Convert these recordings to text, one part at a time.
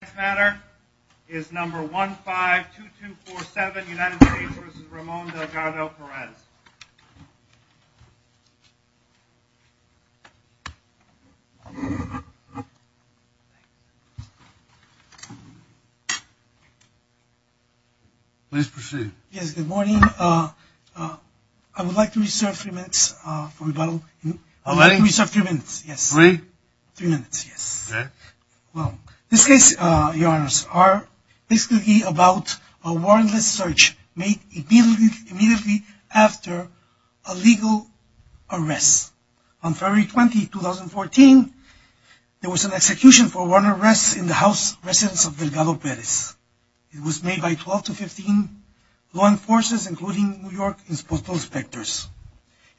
The next matter is number 152247 United States v. Ramon Delgado-Perez. Please proceed. Yes, good morning. I would like to reserve three minutes for rebuttal. Ready? I would like to reserve three minutes, yes. Three? Three minutes, yes. Okay. Well, this case, your honors, are basically about a warrantless search made immediately after a legal arrest. On February 20, 2014, there was an execution for warrantless arrest in the house residence of Delgado-Perez. It was made by 12 to 15 law enforcers, including New York Postal Inspectors.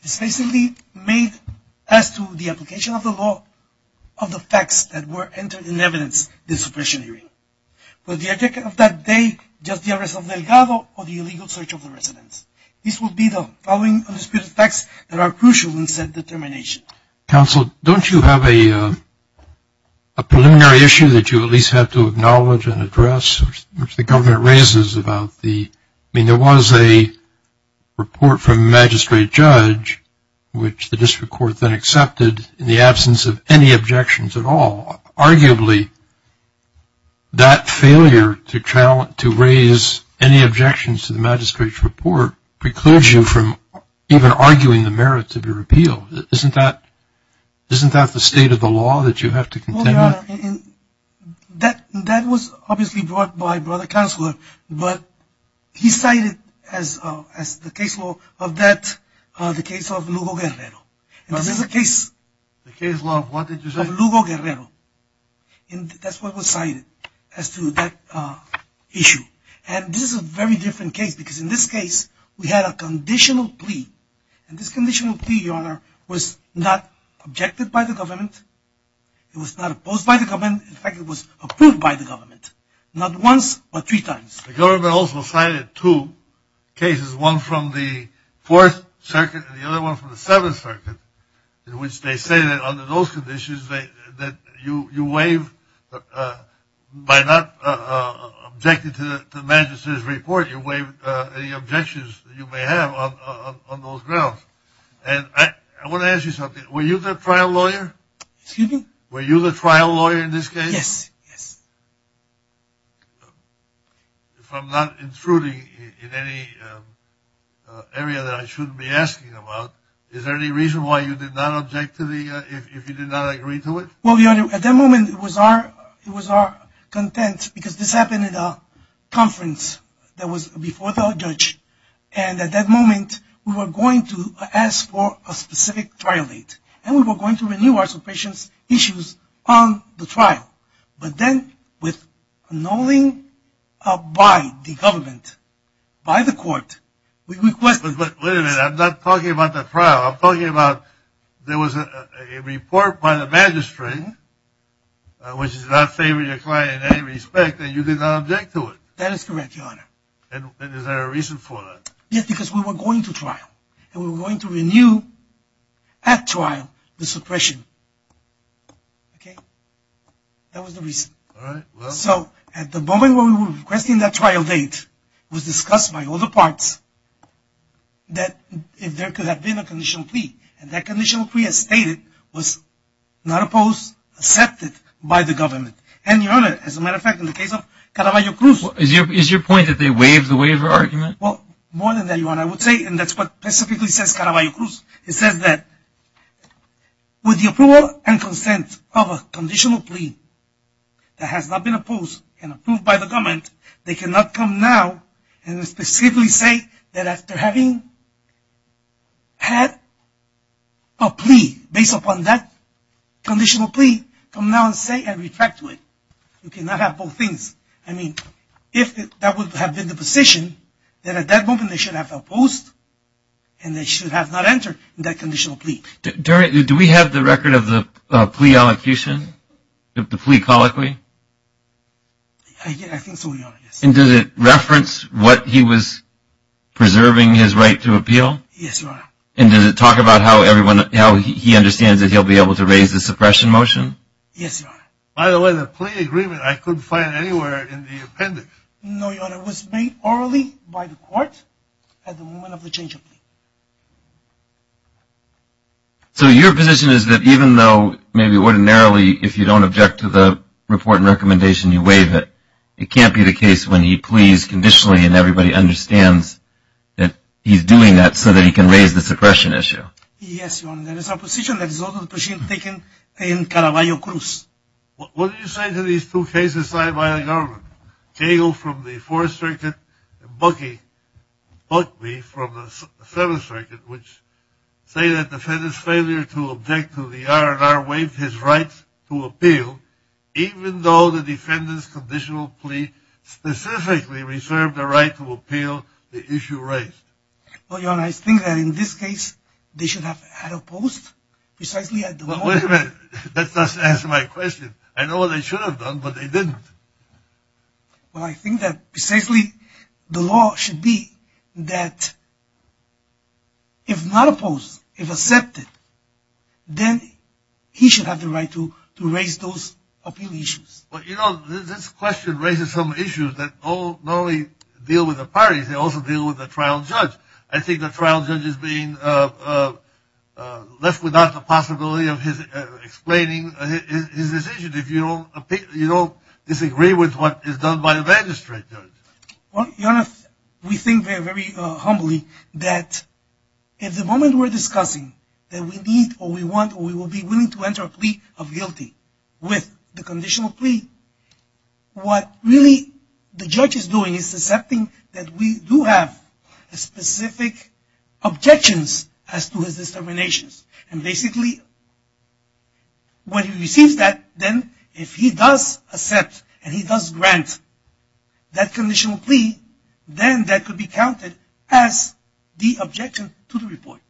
It's basically made as to the application of the law of the suppression hearing. Was the object of that day just the arrest of Delgado or the illegal search of the residence? These would be the following undisputed facts that are crucial in said determination. Counsel, don't you have a preliminary issue that you at least have to acknowledge and address, which the government raises about the – I mean, there was a report from a magistrate judge, which the district court then accepted in the absence of any objections at all. Arguably, that failure to raise any objections to the magistrate's report precludes you from even arguing the merit of your appeal. Isn't that the state of the law that you have to contend with? That was obviously brought by Brother Counselor, but he cited as the case law of that the case of Lugo Guerrero. The case law of what did you say? The case law of Lugo Guerrero. And that's what was cited as to that issue. And this is a very different case, because in this case, we had a conditional plea. And this conditional plea, Your Honor, was not objected by the government. It was not opposed by the government. In fact, it was approved by the government. Not once, but three times. The government also cited two cases, one from the Fourth Circuit and the other one from the Seventh Circuit, in which they say that under those conditions, that you waive, by not objecting to the magistrate's report, you waive any objections you may have on those grounds. And I want to ask you something. Were you the trial lawyer? Excuse me? Were you the trial lawyer in this case? Yes. Yes. If I'm not intruding in any area that I shouldn't be asking about, is there any reason why you did not object to the, if you did not agree to it? Well, Your Honor, at that moment, it was our, it was our content, because this happened in a conference that was before the judge. And at that moment, we were going to ask for a specific trial date. And we were going to renew our suppression's issues on the trial. But then, with annulling by the government, by the court, we requested this. But wait a minute. I'm not talking about the trial. I'm talking about, there was a report by the magistrate, which is not favoring your client in any respect, and you did not object to it. That is correct, Your Honor. And is there a reason for that? Yes, because we were going to trial. And we were going to renew, at trial, the suppression. Okay? That was the reason. All right, well. So, at the moment when we were requesting that trial date, it was discussed by all the parts that, if there could have been a conditional plea. And that conditional plea, as stated, was not opposed, accepted by the government. And, Your Honor, as a matter of fact, in the case of Caraballo Cruz. Is your point that they waived the waiver argument? Well, more than that, Your Honor, I would say, and that's what specifically says Caraballo Cruz, it says that, with the approval and consent of a conditional plea that has not been opposed and approved by the government, they cannot come now and specifically say that after having had a plea based upon that conditional plea, come now and say and retract to it. You cannot have both things. I mean, if that would have been the position, then at that moment they should have opposed and they should have not entered that conditional plea. Do we have the record of the plea colloquy? I think so, Your Honor, yes. And does it reference what he was preserving his right to appeal? Yes, Your Honor. And does it talk about how he understands that he'll be able to raise the suppression motion? Yes, Your Honor. By the way, the plea agreement, I couldn't find anywhere in the appendix. No, Your Honor, it was made orally by the court at the moment of the change of plea. So your position is that even though, maybe ordinarily, if you don't object to the report and recommendation, you waive it, it can't be the case when he pleads conditionally and everybody understands that he's doing that so that he can raise the suppression issue? Yes, Your Honor, that is our position. That is also the position taken in Caraballo Cruz. What do you say to these two cases signed by the government, Cagle from the Fourth Circuit and Buckley from the Seventh Circuit, which say that defendant's failure to object to the R&R waived his right to appeal even though the defendant's conditional plea specifically reserved a right to appeal the issue raised? Well, Your Honor, I think that in this case, they should have had opposed precisely at the moment. Wait a minute. That doesn't answer my question. I know what they should have done, but they didn't. Well, I think that precisely the law should be that if not opposed, if accepted, then he should have the right to raise those appeal issues. Well, you know, this question raises some issues that not only deal with the parties, they also deal with the trial judge. I think the trial judge is being left without the right to explain his decision if you don't disagree with what is done by the magistrate. Well, Your Honor, we think very humbly that if the moment we're discussing that we need or we want or we will be willing to enter a plea of guilty with the conditional plea, what really the judge is doing is accepting that we do have specific objections as to his discriminations. And basically, when he receives that, then if he does accept and he does grant that conditional plea, then that could be counted as the objection to the report.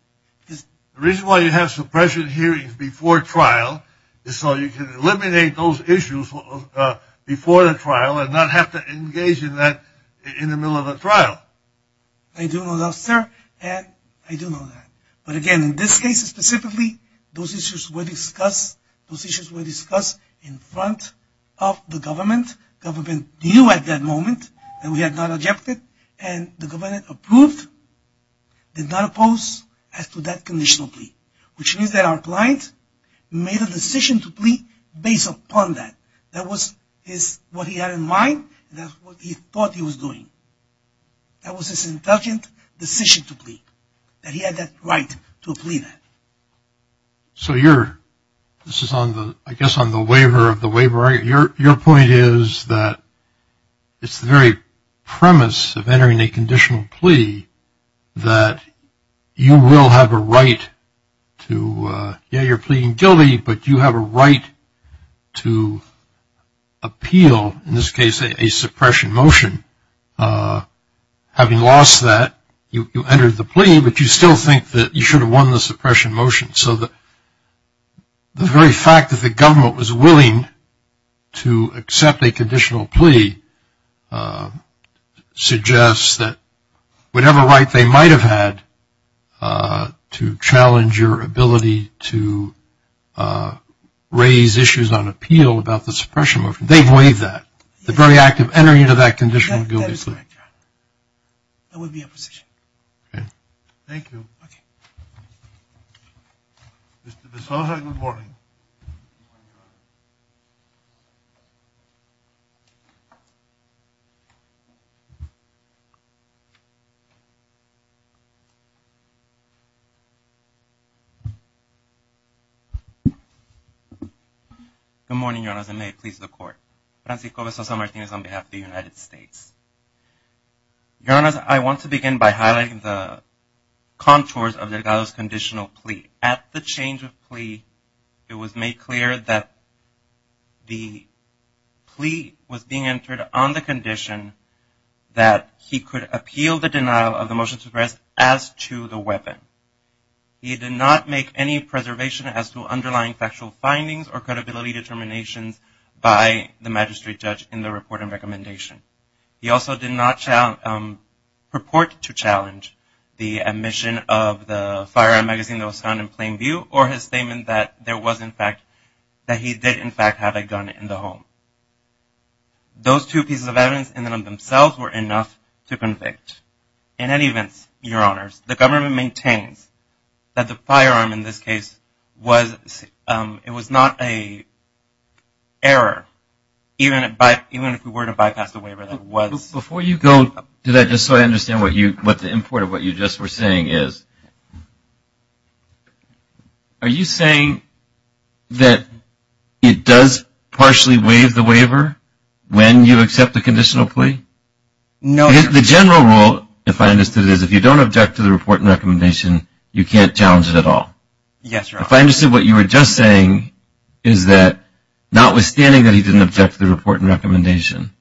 The reason why you have suppression hearings before trial is so you can eliminate those issues before the trial and not have to engage in that in the middle of a trial. I do know that, sir, and I do know that. But again, in this case specifically, those issues were discussed in front of the government. Government knew at that moment that we had not objected and the government approved, did not oppose, as to that conditional plea. Which means that our client made a decision to plea based upon that. That was what he had in mind and that's what he thought he was doing. That was his intelligent decision to plea, that he had that right to plea that. So you're, this is on the, I guess on the waiver of the waiver. Your point is that it's the very premise of entering a conditional plea that you will have a right to, yeah, you're pleading guilty, but you have a right to appeal, in this case, a suppression motion. Having lost that, you entered the plea, but you still think that you should have won the suppression motion. So the very fact that the government was willing to accept a conditional plea suggests that whatever right they might have had to challenge your ability to raise issues on appeal about the suppression motion, they've waived that. The very act of entering into that conditional guilty plea. That would be a position. Okay. Thank you. Okay. Mr. DeSouza, good morning. Good morning, Your Honors, and may it please the Court. Francisco DeSouza Martinez on behalf of the United States. Your Honors, I want to begin by highlighting the contours of Delgado's conditional plea. At the change of plea, it was made clear that the plea was being entered on the condition that he could appeal the denial of the motion to suppress as to the weapon. He did not make any preservation as to underlying factual findings or credibility determinations by the defendant. He also did not purport to challenge the admission of the firearm magazine that was found in plain view or his statement that there was, in fact, that he did, in fact, have a gun in the home. Those two pieces of evidence in and of themselves were enough to convict. In any event, Your Honors, the government maintains that the firearm in this case was not an error, even if we were to bypass the waiver that was. Before you go to that, just so I understand what the import of what you just were saying is. Are you saying that it does partially waive the waiver when you accept the conditional plea? No. The general rule, if I understood it, is if you don't object to the report and recommendation, you can't challenge it at all. Yes, Your Honors. If I understood what you were just saying is that notwithstanding that he didn't object to the report and recommendation,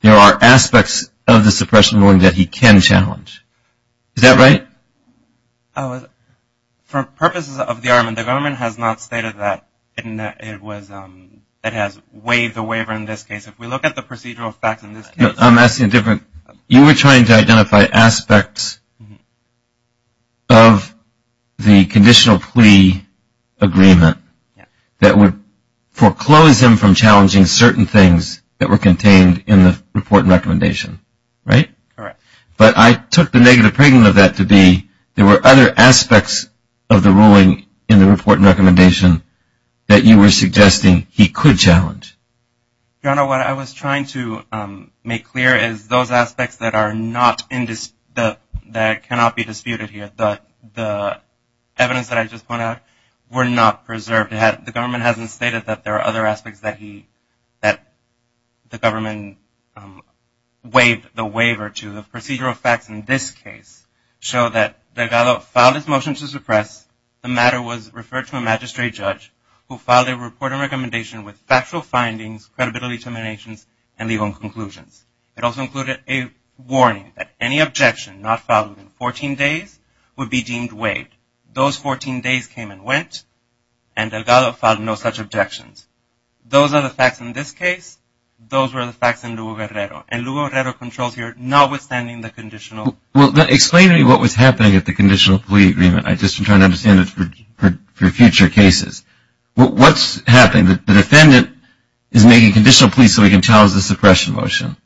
there are aspects of the suppression ruling that he can challenge. Is that right? For purposes of the argument, the government has not stated that it has waived the waiver in this case. If we look at the procedural facts in this case. I'm asking a different question. You were trying to identify aspects of the conditional plea agreement that would foreclose him from challenging certain things that were contained in the report and recommendation, right? Correct. But I took the negative pregnant of that to be there were other aspects of the ruling in the report and recommendation that you were suggesting he could challenge. Your Honor, what I was trying to make clear is those aspects that cannot be disputed here, the evidence that I just pointed out, were not preserved. The government hasn't stated that there are other aspects that the government waived the waiver to. The procedural facts in this case show that Delgado filed his motion to suppress. The matter was referred to a magistrate judge who filed a report and recommendation with factual findings, credible determinations, and legal conclusions. It also included a warning that any objection not filed within 14 days would be deemed waived. Those 14 days came and went, and Delgado filed no such objections. Those are the facts in this case. Those were the facts in Lugo-Guerrero. And Lugo-Guerrero controls here notwithstanding the conditional. Well, explain to me what was happening at the conditional plea agreement. I'm just trying to understand it for future cases. What's happening? The defendant is making conditional pleas so he can challenge the suppression motion.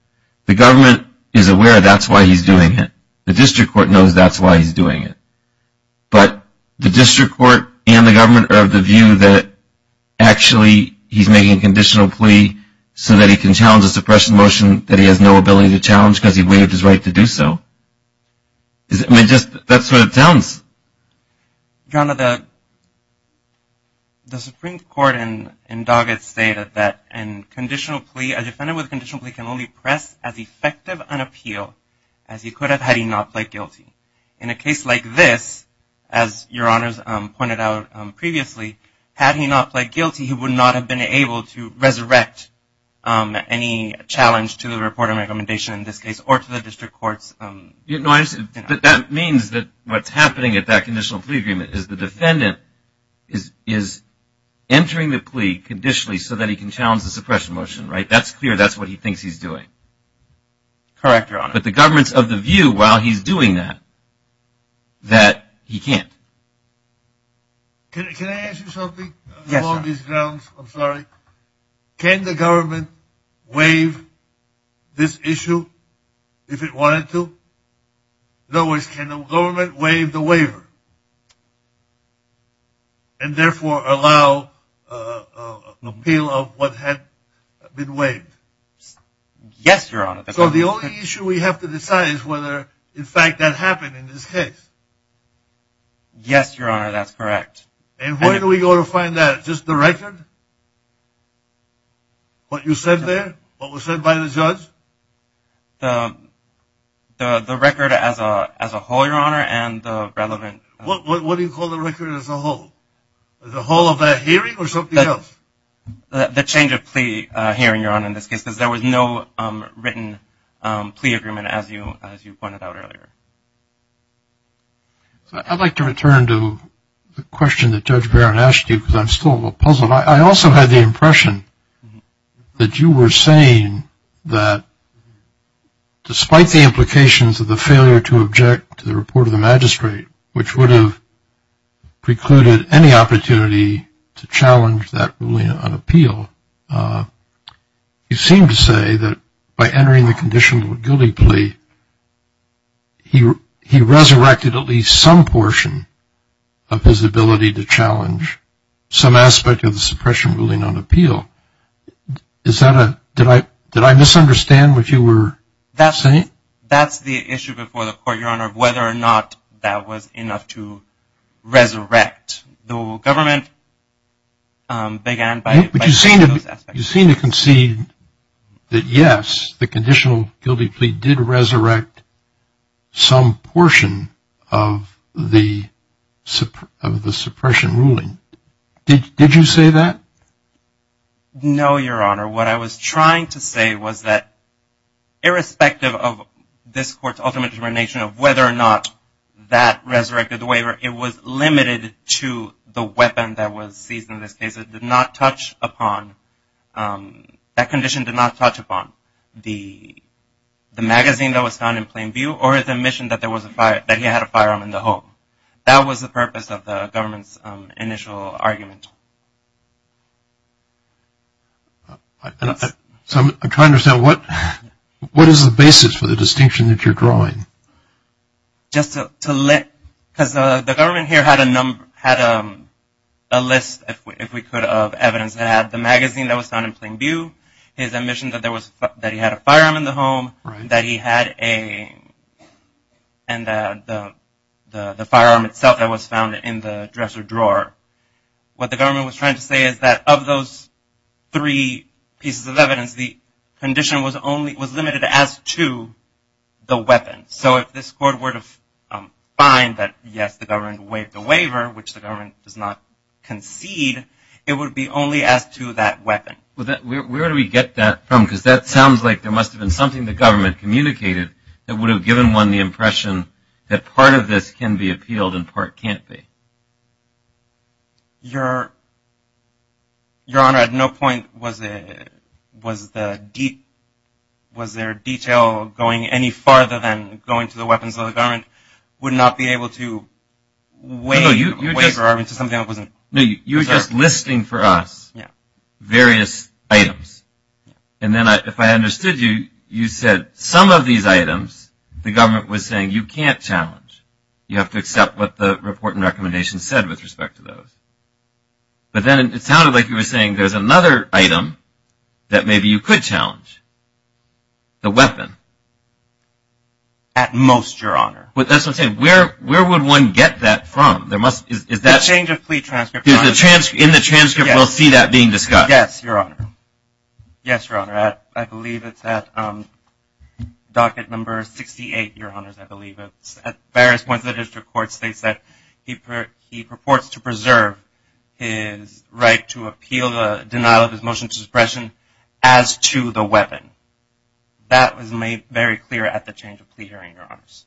The government is aware that's why he's doing it. The district court knows that's why he's doing it. But the district court and the government are of the view that actually he's making a conditional plea so that he can challenge the suppression motion that he has no ability to challenge because he waived his right to do so. I mean, that's what it sounds. John, the Supreme Court in Doggett stated that a defendant with a conditional plea can only press as effective an appeal as he could have had he not pled guilty. In a case like this, as Your Honors pointed out previously, had he not pled guilty, he would not have been able to resurrect any challenge to the report of recommendation in this case or to the district courts. But that means that what's happening at that conditional plea agreement is the defendant is entering the plea conditionally so that he can challenge the suppression motion, right? That's clear. That's what he thinks he's doing. Correct, Your Honor. But the government's of the view while he's doing that that he can't. Can I ask you something? Yes, sir. I'm sorry. Can the government waive this issue if it wanted to? In other words, can the government waive the waiver and therefore allow an appeal of what had been waived? Yes, Your Honor. So the only issue we have to decide is whether, in fact, that happened in this case. Yes, Your Honor, that's correct. And where do we go to find that? Just the record? What you said there? What was said by the judge? The record as a whole, Your Honor, and the relevant. What do you call the record as a whole? The whole of that hearing or something else? The change of plea hearing, Your Honor, in this case, because there was no written plea agreement as you pointed out earlier. So I'd like to return to the question that Judge Barron asked you because I'm still a little puzzled. I also had the impression that you were saying that despite the implications of the failure to object to the report of the magistrate, which would have precluded any opportunity to challenge that ruling on appeal, you seem to say that by entering the condition of a guilty plea, he resurrected at least some portion of his ability to challenge some aspect of the suppression ruling on appeal. Did I misunderstand what you were saying? That's the issue before the court, Your Honor, whether or not that was enough to resurrect. The government began by those aspects. But you seem to concede that, yes, the conditional guilty plea did resurrect some portion of the suppression ruling. Did you say that? No, Your Honor. What I was trying to say was that irrespective of this court's ultimate determination of whether or not that resurrected the waiver, it was limited to the weapon that was seized in this case. That condition did not touch upon the magazine that was found in plain view or the mission that he had a firearm in the home. That was the purpose of the government's initial argument. So I'm trying to understand, what is the basis for the distinction that you're drawing? Because the government here had a list, if we could, of evidence that had the magazine that was found in plain view, his admission that he had a firearm in the home, that he had the firearm itself that was found in the dresser drawer. What the government was trying to say is that of those three pieces of evidence, the condition was limited as to the weapon. So if this court were to find that, yes, the government waived the waiver, which the government does not concede, it would be only as to that weapon. Where do we get that from? Because that sounds like there must have been something the government communicated that would have given one the impression that part of this can be appealed and part can't be. Your Honor, at no point was there detail going any farther than going to the weapons of the government would not be able to waive a waiver. No, you're just listing for us various items. And then if I understood you, you said some of these items the government was saying you can't challenge. You have to accept what the report and recommendation said with respect to those. But then it sounded like you were saying there's another item that maybe you could challenge, the weapon. At most, Your Honor. That's what I'm saying. Where would one get that from? The change of plea transcript. In the transcript we'll see that being discussed. Yes, Your Honor. Yes, Your Honor. I believe it's at docket number 68, Your Honors. I believe it's at various points of the district court states that he purports to preserve his right to appeal the denial of his motion to suppression as to the weapon. That was made very clear at the change of plea hearing, Your Honors.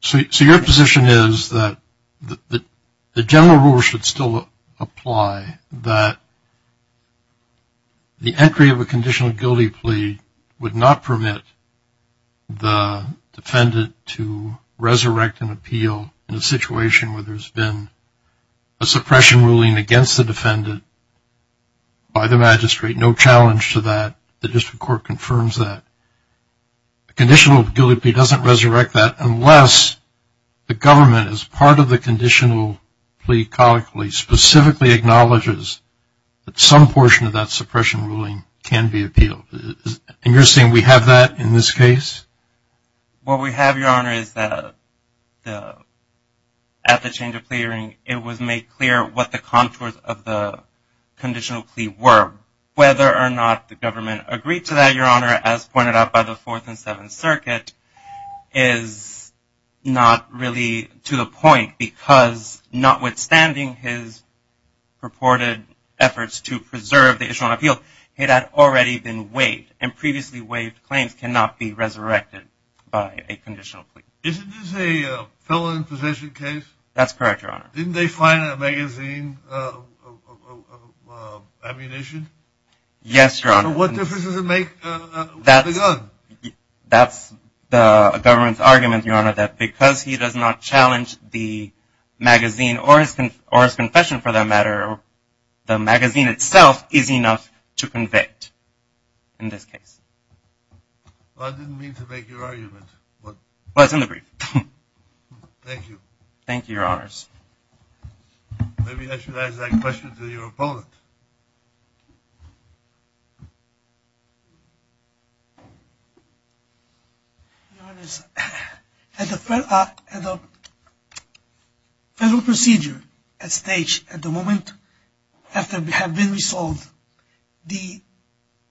So your position is that the general rule should still apply, that the entry of a conditional guilty plea would not permit the defendant to resurrect an appeal in a situation where there's been a suppression ruling against the defendant by the magistrate, no challenge to that, the district court confirms that. The conditional guilty plea doesn't resurrect that unless the government, as part of the conditional plea colloquially, specifically acknowledges that some portion of that suppression ruling can be appealed. And you're saying we have that in this case? What we have, Your Honor, is that at the change of plea hearing, it was made clear what the contours of the conditional plea were, whether or not the government agreed to that, Your Honor, as pointed out by the Fourth and Seventh Circuit is not really to the point because notwithstanding his purported efforts to preserve the issue on appeal, it had already been waived, and previously waived claims cannot be resurrected by a conditional plea. Isn't this a felon in possession case? That's correct, Your Honor. Didn't they find a magazine of ammunition? Yes, Your Honor. So what difference does it make with a gun? That's the government's argument, Your Honor, that because he does not challenge the magazine or his confession for that matter, the magazine itself is enough to convict in this case. I didn't mean to make your argument. Well, it's in the brief. Thank you. Thank you, Your Honors. Maybe I should ask that question to your opponent. Your Honors, at the federal procedure at stage at the moment, after it had been resolved, the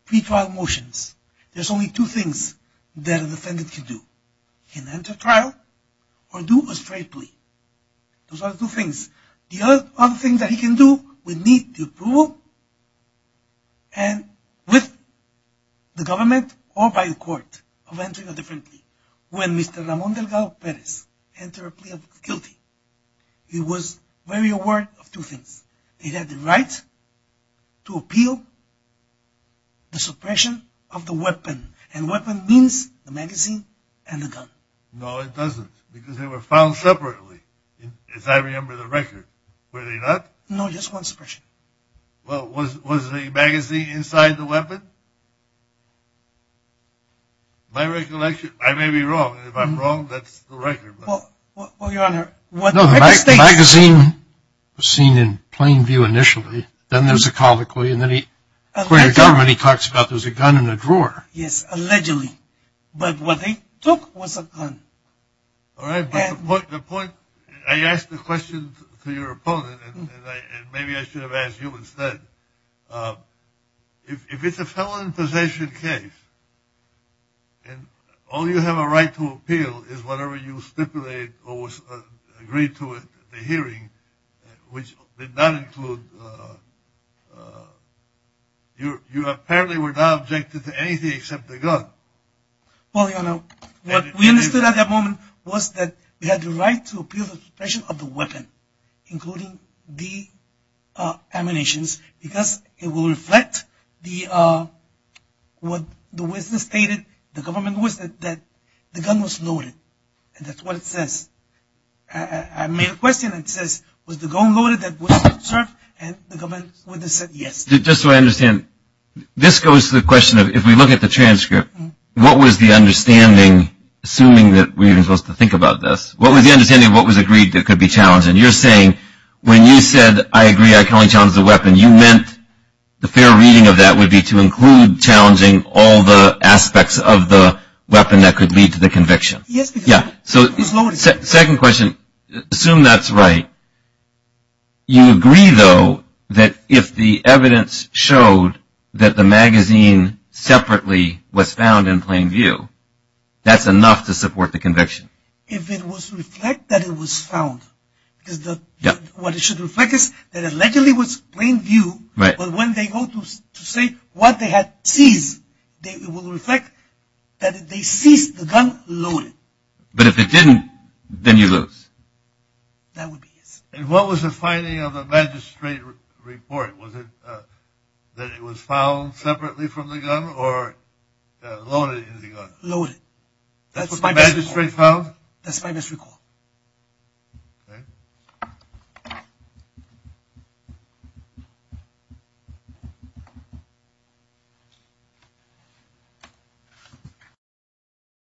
pretrial motions, there's only two things that a defendant can do. He can enter trial or do a straight plea. Those are the two things. The other thing that he can do would be to prove and with the government or by the court of entering a different plea. When Mr. Ramon Delgado Perez entered a plea of guilt, he was very aware of two things. He had the right to appeal the suppression of the weapon, and weapon means the magazine and the gun. No, it doesn't, because they were found separately, as I remember the record. Were they not? No, just one suppression. Well, was the magazine inside the weapon? My recollection, I may be wrong, and if I'm wrong, that's the record. Well, Your Honor, what the record states… No, the magazine was seen in plain view initially. Then there's a colloquy, and then he, according to the government, then he talks about there's a gun in the drawer. Yes, allegedly. But what they took was a gun. All right, but the point, I asked the question to your opponent, and maybe I should have asked you instead. If it's a felon possession case, and all you have a right to appeal is whatever you stipulated or was agreed to at the hearing, which did not include, you apparently were not objected to anything except the gun. Well, Your Honor, what we understood at that moment was that we had the right to appeal the suppression of the weapon, including the ammunitions, because it will reflect what the government stated, and it was that the gun was loaded, and that's what it says. I made a question, and it says, was the gun loaded that was observed, and the government said yes. Just so I understand, this goes to the question of if we look at the transcript, what was the understanding, assuming that we were supposed to think about this, what was the understanding of what was agreed that could be challenged? And you're saying when you said, I agree, I can only challenge the weapon, that could lead to the conviction. Second question, assume that's right. You agree, though, that if the evidence showed that the magazine separately was found in plain view, that's enough to support the conviction? If it was to reflect that it was found, because what it should reflect is that allegedly it was plain view, but when they go to say what they had seized, it will reflect that they seized the gun loaded. But if it didn't, then you lose. That would be it. And what was the finding of the magistrate report? Was it that it was found separately from the gun or loaded in the gun? Loaded. That's what the magistrate found? That's my best recall. Okay.